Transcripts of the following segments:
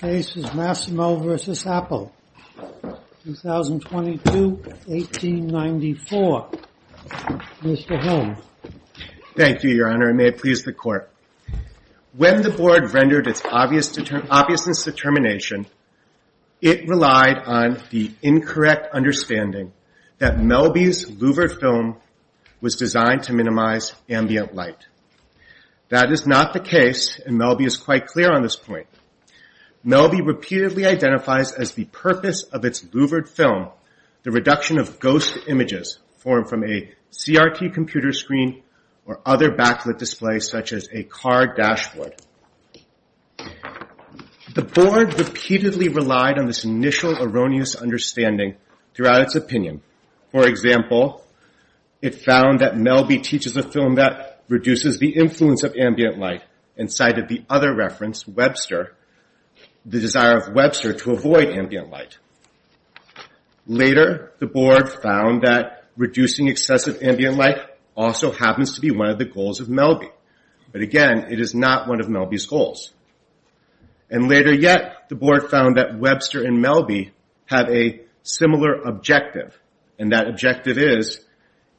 When the board rendered its obviousness determination, it relied on the incorrect understanding that Melby's louvered film was designed to minimize ambient light. That is not the case, and Melby is quite clear on this point. Melby repeatedly identifies as the purpose of its louvered film the reduction of ghost images formed from a CRT computer screen or other backlit displays such as a car dashboard. The board repeatedly relied on this initial erroneous understanding throughout its opinion. For example, it found that Melby teaches a film that reduces the influence of ambient light and cited the other reference, Webster, the desire of Webster to avoid ambient light. Later, the board found that reducing excessive ambient light also happens to be one of the goals of Melby. But again, it is not one of Melby's goals. Later yet, the board found that Webster and Melby have a similar objective, and that objective is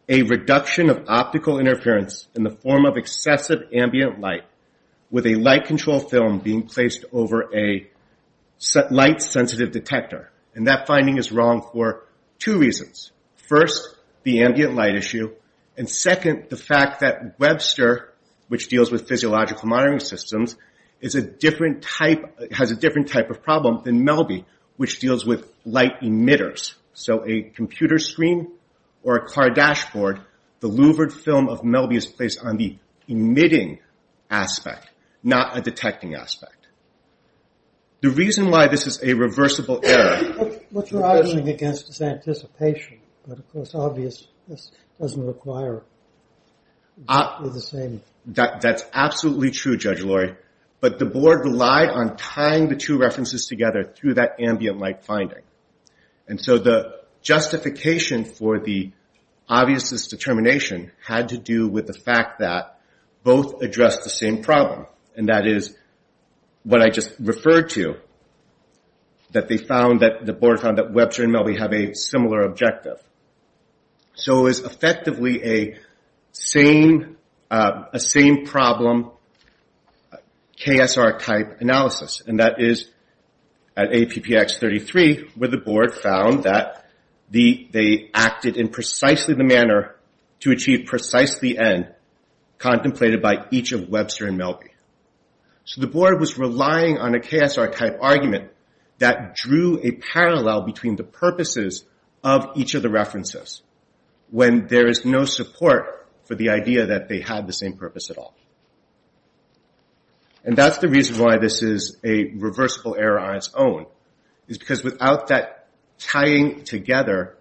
a reduction of optical interference in the form of excessive ambient light with a light-controlled film being placed over a light-sensitive detector. That finding is wrong for two reasons. First, the ambient light issue, and second, the fact that Webster, which deals with physiological monitoring systems, has a different type of problem than Melby, which deals with light emitters. So a computer screen or a car dashboard, the louvered film of Melby is placed on the emitting aspect, not a detecting aspect. The reason why this is a reversible error... That is absolutely true, Judge Laurie, but the board relied on tying the two references together through that ambient light finding. The justification for the obviousness determination had to do with the fact that both addressed the same problem, and that is what I just referred to, that the board found that Webster and Melby have a similar objective. So it was effectively a same-problem, KSR-type analysis, and that is at APPx33, where the board found that they acted in precisely the manner to achieve precisely the end contemplated by each of Webster and Melby. So the board was relying on a KSR-type argument that drew a parallel between the purposes of each of the references, when there is no support for the idea that they have the same purpose at all. And that is the reason why this is a reversible error on its own, is because without that tying together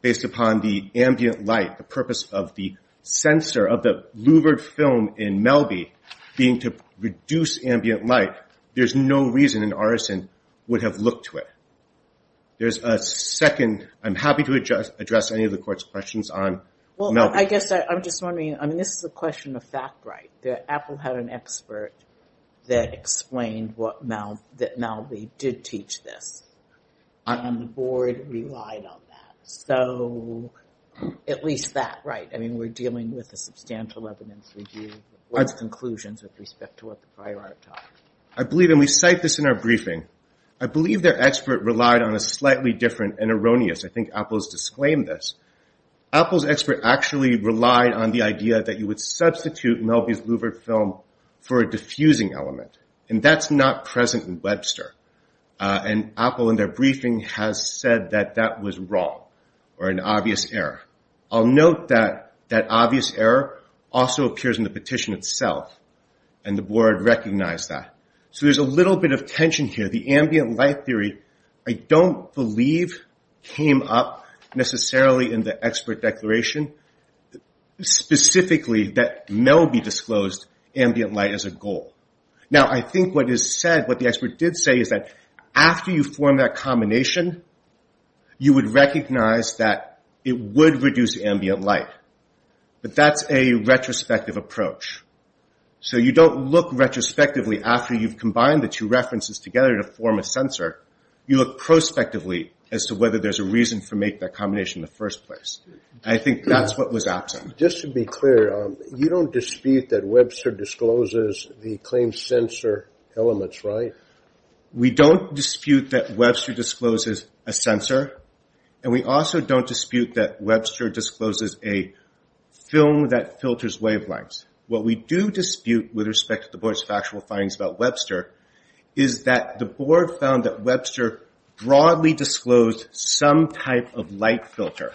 based upon the ambient light, the purpose of the sensor of the louvered film in Melby being to reduce ambient light, there is no reason an artisan would have looked to it. There is a second, I'm happy to address any of the court's questions on Melby. I'm just wondering, this is a question of fact, right, that Apple had an expert that explained that Melby did teach this, and the board relied on that. So at least that, right, we're dealing with a substantial evidence review, what's conclusions with respect to what the prior art taught. I believe, and we cite this in our briefing, I believe their expert relied on a slightly different and erroneous, I think Apple has disclaimed this. Apple's expert actually relied on the idea that you would substitute Melby's louvered film for a diffusing element, and that's not present in Webster. And Apple in their briefing has said that that was wrong, or an obvious error. I'll note that that obvious error also appears in the petition itself, and the board recognized that. So there's a little bit of tension here. The ambient light theory, I don't believe, came up necessarily in the expert declaration, specifically that Melby disclosed ambient light as a goal. Now I think what the expert did say is that after you form that combination, you would recognize that it would reduce ambient light. But that's a retrospective approach. So you don't look retrospectively after you've combined the two references together to form a sensor. You look prospectively as to whether there's a reason for making that combination in the first place. I think that's what was absent. Just to be clear, you don't dispute that Webster discloses the claimed sensor elements, right? We don't dispute that Webster discloses a sensor, and we also don't dispute that Webster discloses a film that filters wavelengths. What we do dispute with respect to the board's factual findings about Webster is that the board found that Webster broadly disclosed some type of light filter.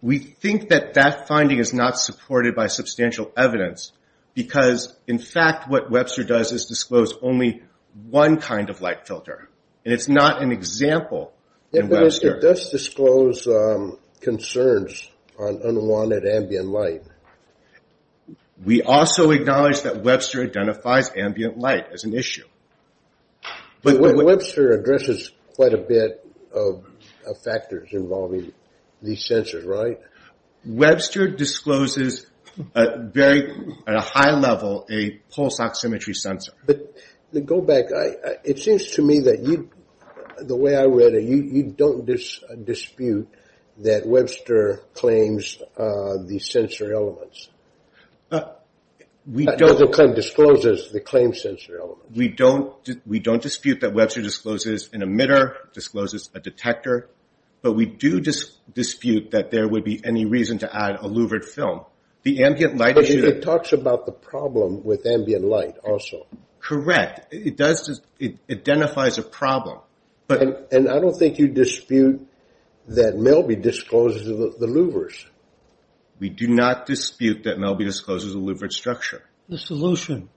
We think that that finding is not supported by substantial evidence because, in fact, what Webster does is disclose only one kind of light filter. And it's not an example in Webster. It does disclose concerns on unwanted ambient light. We also acknowledge that Webster identifies ambient light as an issue. Webster addresses quite a bit of factors involving these sensors, right? Webster discloses at a high level a pulse oximetry sensor. But go back. It seems to me that the way I read it, you don't dispute that Webster claims the sensor elements. Webster discloses the claimed sensor elements. We don't dispute that Webster discloses an emitter, discloses a detector, but we do dispute that there would be any reason to add a louvered film. But it talks about the problem with ambient light also. Correct. It identifies a problem. And I don't think you dispute that Melby discloses the louvers. We do not dispute that Melby discloses the louvered structure. The solution.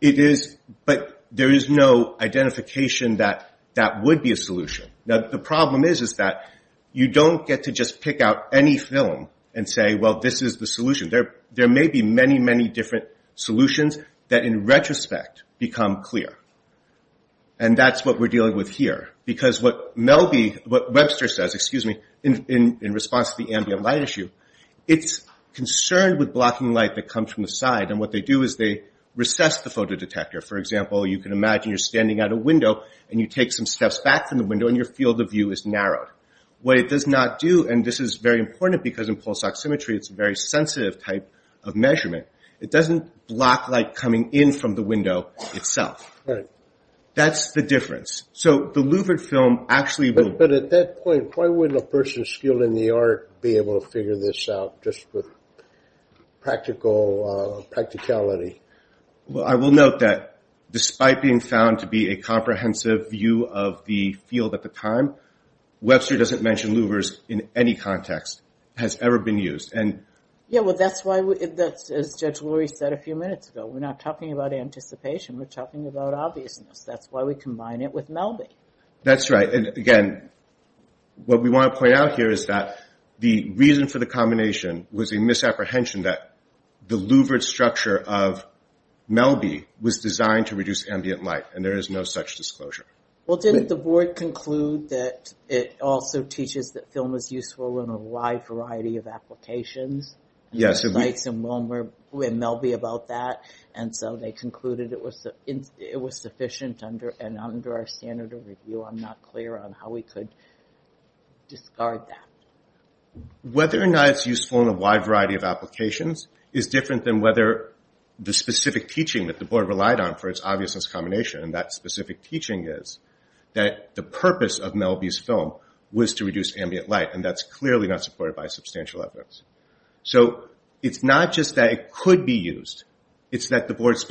It is, but there is no identification that that would be a solution. The problem is that you don't get to just pick out any film and say, well, this is the solution. There may be many, many different solutions that in retrospect become clear. And that's what we're dealing with here. Because what Webster says in response to the ambient light issue, it's concerned with blocking light that comes from the side. And what they do is they recess the photo detector. For example, you can imagine you're standing at a window and you take some steps back from the window and you feel the view is narrowed. What it does not do, and this is very important because in pulse oximetry it's a very sensitive type of measurement. It doesn't block light coming in from the window itself. That's the difference. So the louvered film actually. But at that point, why wouldn't a person skilled in the art be able to figure this out just for practical practicality? Well, I will note that despite being found to be a comprehensive view of the field at the time, Webster doesn't mention louvers in any context has ever been used. That's why, as Judge Lori said a few minutes ago, we're not talking about anticipation, we're talking about obviousness. That's why we combine it with Melby. That's right. And again, what we want to point out here is that the reason for the combination was a misapprehension that the louvered structure of Melby was designed to reduce ambient light, and there is no such disclosure. Well, didn't the board conclude that it also teaches that film is useful in a wide variety of applications? Yes. And Melby about that, and so they concluded it was sufficient and under our standard of review. I'm not clear on how we could discard that. Whether or not it's useful in a wide variety of applications is different than whether the specific teaching that the board relied on for its obviousness combination, and that specific teaching is that the purpose of Melby's film was to reduce ambient light, and that's clearly not supported by substantial evidence. So it's not just that it could be used, it's that the board's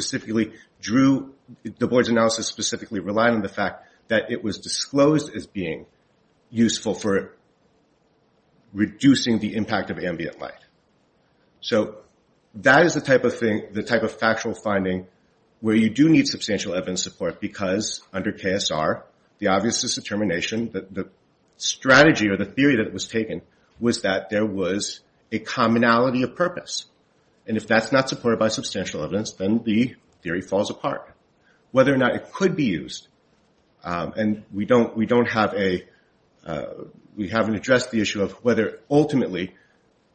analysis specifically relied on the fact that it was disclosed as being useful for reducing the impact of ambient light. So that is the type of factual finding where you do need substantial evidence support because under KSR, the obviousness determination, the strategy or the theory that was taken was that there was a commonality of purpose. And if that's not supported by substantial evidence, then the theory falls apart. Whether or not it could be used, and we don't have a, we haven't addressed the issue of whether ultimately,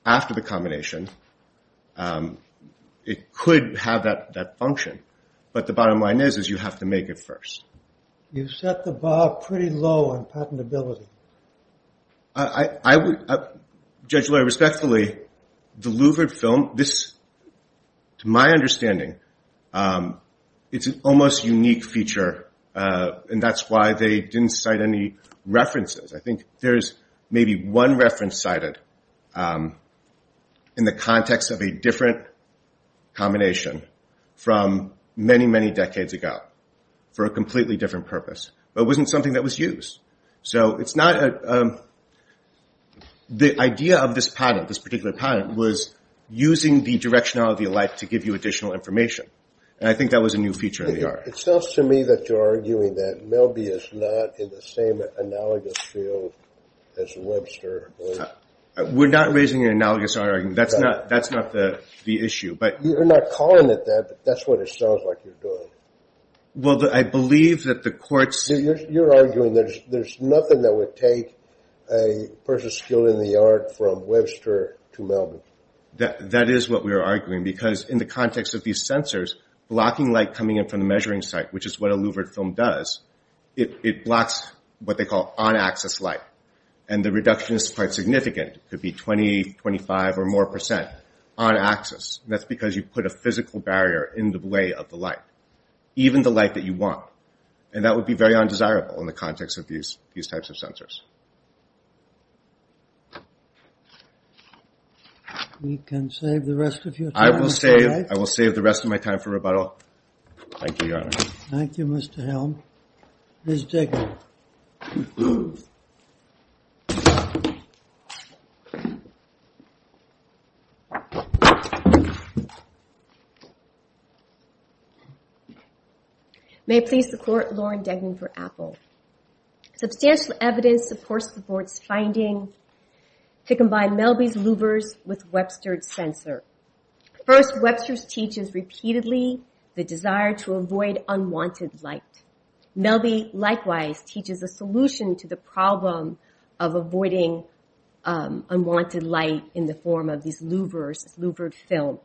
after the combination, it could have that function. But the bottom line is you have to make it first. You set the bar pretty low on patentability. Judge Loehr, respectfully, the Louvred film, to my understanding, it's an almost unique feature, and that's why they didn't cite any references. I think there's maybe one reference cited in the context of a different combination from many, many decades ago for a completely different purpose. But it wasn't something that was used. The idea of this patent, this particular patent, was using the directionality of light to give you additional information. And I think that was a new feature in the art. It sounds to me that you're arguing that Melby is not in the same analogous field as Webster. We're not raising an analogous argument. That's not the issue. You're not calling it that, but that's what it sounds like you're doing. You're arguing there's nothing that would take a person skilled in the art from Webster to Melby. That is what we're arguing, because in the context of these sensors, blocking light coming in from the measuring site, which is what a Louvred film does, it blocks what they call on-axis light. And the reduction is quite significant. It could be 20, 25 or more percent on-axis. That's because you put a physical barrier in the way of the light, even the light that you want. And that would be very undesirable in the context of these types of sensors. We can save the rest of your time. I will save the rest of my time for rebuttal. Thank you, Your Honor. May it please the Court, Lauren Degnan for Apple. Substantial evidence supports the Court's finding to combine Melby's Louvres with Webster's sensor. First, Webster's teaches repeatedly the desire to avoid unwanted light. Melby likewise teaches a solution to the problem of avoiding unwanted light in the form of these Louvres, this Louvred film.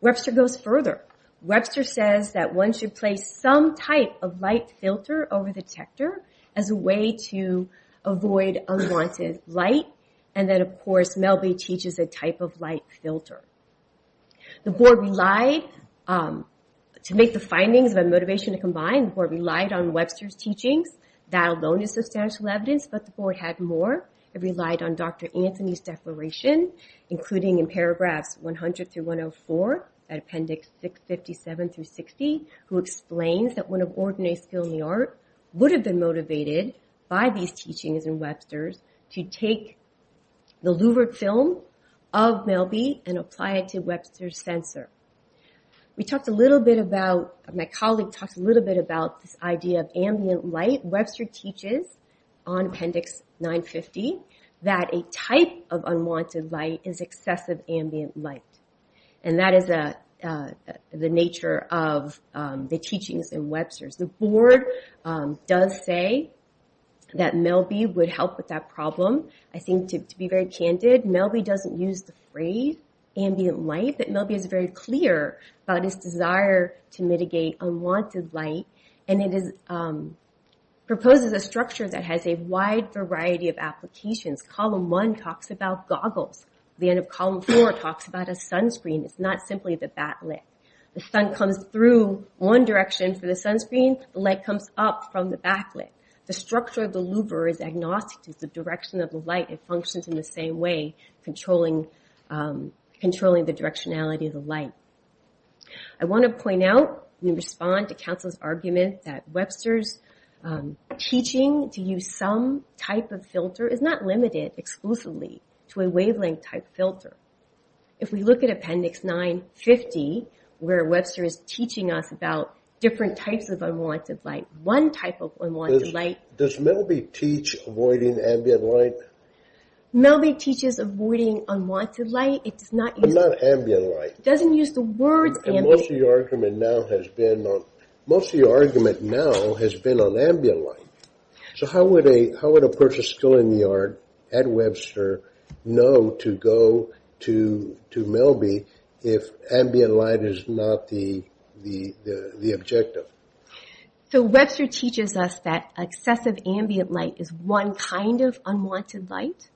Webster goes further. Webster says that one should place some type of light filter over the detector as a way to avoid unwanted light. And then, of course, Melby teaches a type of light filter. To make the findings of a motivation to combine, the Board relied on Webster's teachings. That alone is substantial evidence, but the Board had more. It relied on Dr. Anthony's declaration, including in paragraphs 100 through 104, at appendix 657 through 60, who explains that one of ordinary skill in the art would have been motivated by these teachings in Webster's to take the Louvred film of Melby and apply it to Webster's sensor. My colleague talked a little bit about this idea of ambient light. Webster teaches on appendix 950 that a type of unwanted light is excessive ambient light. And that is the nature of the teachings in Webster's. The Board does say that Melby would help with that problem. I think, to be very candid, Melby doesn't use the phrase ambient light, but Melby is very clear about his desire to mitigate unwanted light. And it proposes a structure that has a wide variety of applications. Column 1 talks about goggles. The end of column 4 talks about a sunscreen. It's not simply the backlit. The sun comes through one direction for the sunscreen. The light comes up from the backlit. The structure of the Louvre is agnostic to the direction of the light. It functions in the same way, controlling the directionality of the light. I want to point out and respond to Council's argument that Webster's teaching to use some type of filter is not limited exclusively to a wavelength type filter. If we look at appendix 950, where Webster is teaching us about different types of unwanted light, Does Melby teach avoiding ambient light? Melby teaches avoiding unwanted light. It does not use the words ambient light. Most of your argument now has been on ambient light. So how would a person still in the yard at Webster know to go to Melby if ambient light is not the objective? So Webster teaches us that excessive ambient light is one kind of unwanted light.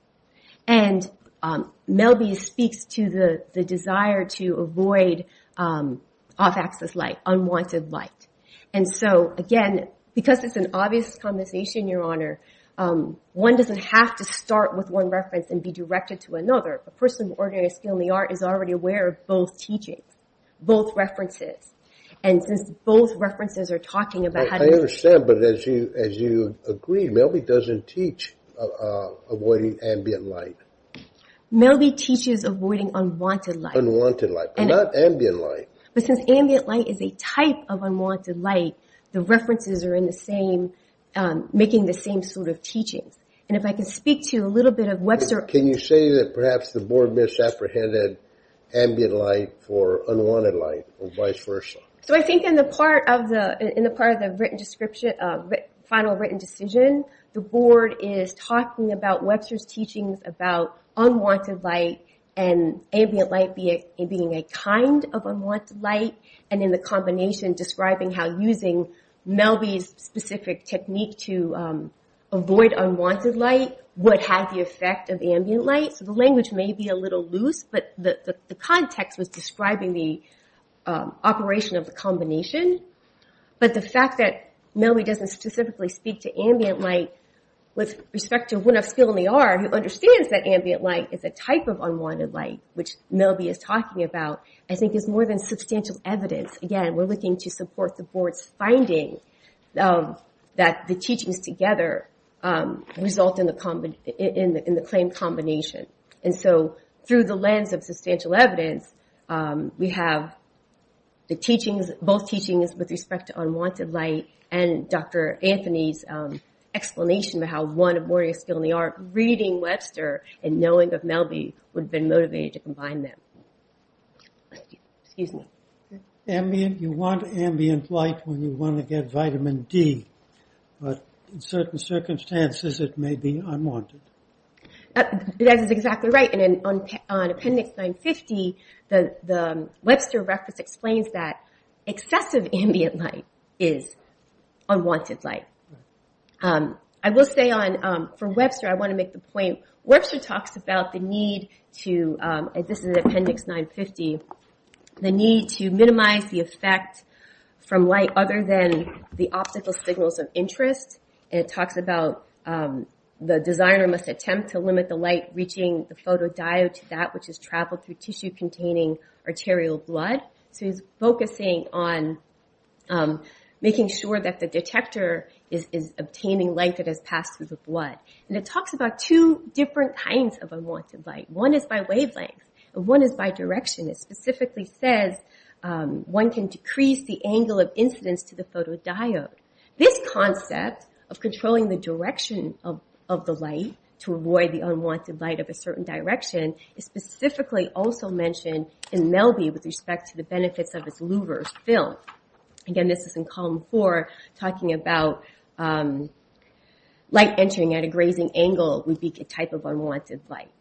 And Melby speaks to the desire to avoid off-axis light, unwanted light. And so, again, because it's an obvious conversation, Your Honor, one doesn't have to start with one reference and be directed to another. A person of ordinary skill in the art is already aware of both teachings, both references. I understand, but as you agree, Melby doesn't teach avoiding ambient light. Melby teaches avoiding unwanted light. But since ambient light is a type of unwanted light, the references are making the same sort of teachings. Can you say that perhaps the Board misapprehended ambient light for unwanted light, or vice versa? So I think in the part of the final written decision, the Board is talking about Webster's teachings about unwanted light and ambient light being a kind of unwanted light, and in the combination describing how using Melby's specific technique to avoid unwanted light would have the effect of ambient light. So the language may be a little loose, but the context was describing the operation of the combination. But the fact that Melby doesn't specifically speak to ambient light with respect to one of skill in the art who understands that ambient light is a type of unwanted light, which Melby is talking about, I think is more than substantial evidence. Again, we're looking to support the Board's finding that the teachings together result in the claimed combination. And so through the lens of substantial evidence, we have the teachings, both teachings with respect to unwanted light and Dr. Anthony's explanation of how one of Moria's skill in the art reading Webster and knowing of Melby would have been motivated to combine them. You want ambient light when you want to get vitamin D, but in certain circumstances it may be unwanted. That is exactly right. On appendix 950, the Webster reference explains that excessive ambient light is unwanted light. I will say for Webster, I want to make the point, Webster talks about the need to, this is appendix 950, the need to minimize the effect from light other than the obstacle signals of interest. It talks about the designer must attempt to limit the light reaching the photodiode to that which has traveled through tissue containing arterial blood. So he's focusing on making sure that the detector is obtaining light that has passed through the blood. And it talks about two different kinds of unwanted light. One is by wavelength and one is by direction. It specifically says one can decrease the angle of incidence to the photodiode. This concept of controlling the direction of the light to avoid unwanted light of a certain direction is specifically also mentioned in Melby with respect to the benefits of its louvers film. Again, this is in column 4, talking about light entering at a grazing angle would be a type of unwanted light.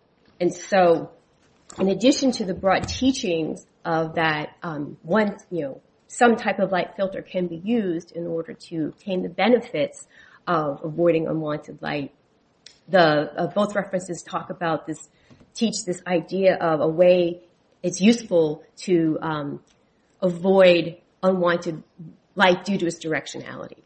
In addition to the broad teachings of that, some type of light filter can be used in order to obtain the benefits of avoiding unwanted light. Both references talk about this, teach this idea of a way it's useful to avoid unwanted light due to its directionality.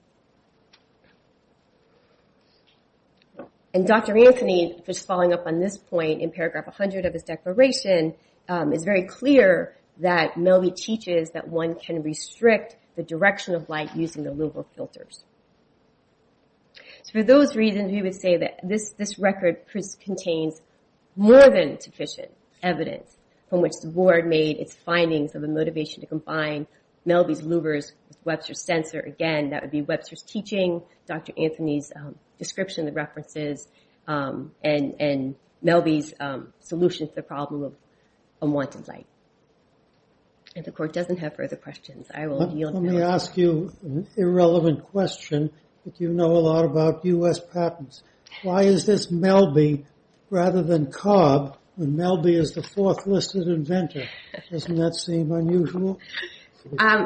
And Dr. Anthony is following up on this point in paragraph 100 of his declaration is very clear that Melby teaches that one can restrict the direction of light using the louver filters. For those reasons, we would say that this record contains more than sufficient evidence from which the board made its findings of the motivation to combine Melby's louvers with Webster's sensor. Again, that would be Webster's teaching, Dr. Anthony's description, the references, and Melby's solution to the problem of unwanted light. And the court doesn't have further questions. I will yield now. Let me ask you an irrelevant question. You know a lot about U.S. patents. Why is this Melby rather than Cobb when Melby is the fourth listed inventor? Doesn't that seem unusual? I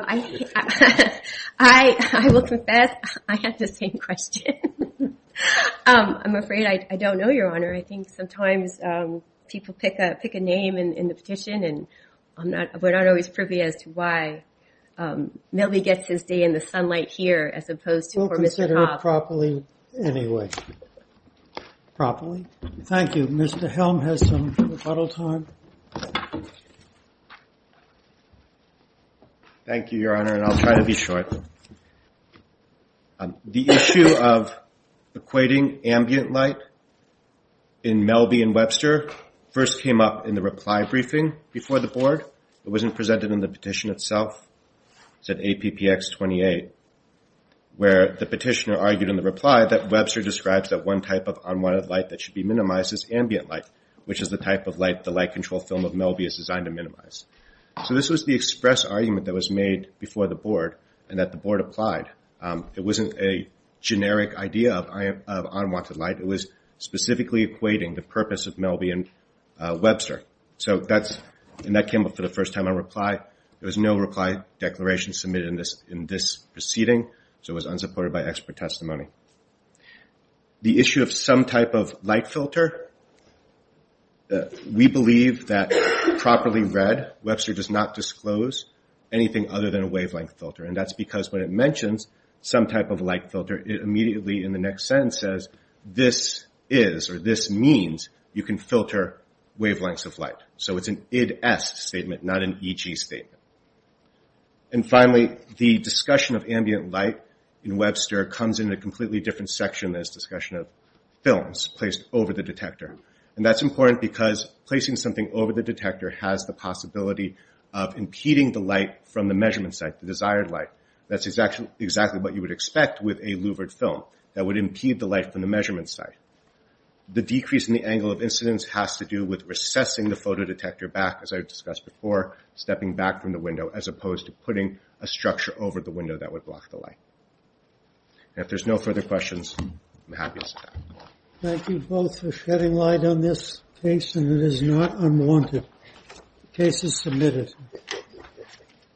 will confess I had the same question. I'm afraid I don't know, Your Honor. I think sometimes people pick a name in the petition and we're not always privy as to why Melby gets his day in the sunlight here as opposed to for Mr. Cobb. We'll consider it properly anyway. Thank you. Mr. Helm has some rebuttal time. Thank you, Your Honor, and I'll try to be short. The issue of equating ambient light in Melby and Webster first came up in the reply briefing before the board. It wasn't presented in the petition itself. It was at APPX 28 where the petitioner argued in the reply that Webster describes that one type of unwanted light that should be minimized is ambient light, which is the type of light the light control film of Melby is designed to minimize. So this was the express argument that was made before the board and that the board applied. It wasn't a generic idea of unwanted light. It was specifically equating the purpose of Melby and Webster. So that came up for the first time in reply. There was no reply declaration submitted in this proceeding, so it was unsupported by expert testimony. The issue of some type of light filter, we believe that, properly read, Webster does not disclose anything other than a wavelength filter. And that's because when it mentions some type of light filter, it immediately in the next sentence says, this is or this means you can filter wavelengths of light. So it's an IDS statement, not an EG statement. And finally, the discussion of ambient light in Webster comes in a completely different section than its discussion of films placed over the detector. And that's important because placing something over the detector has the possibility of impeding the light from the measurement site, the desired light. That's exactly what you would expect with a louvered film that would impede the light from the measurement site. The decrease in the angle of incidence has to do with recessing the photodetector back, as I discussed before, stepping back from the window as opposed to putting a structure over the window that would block the light. And if there's no further questions, I'm happy to sit down.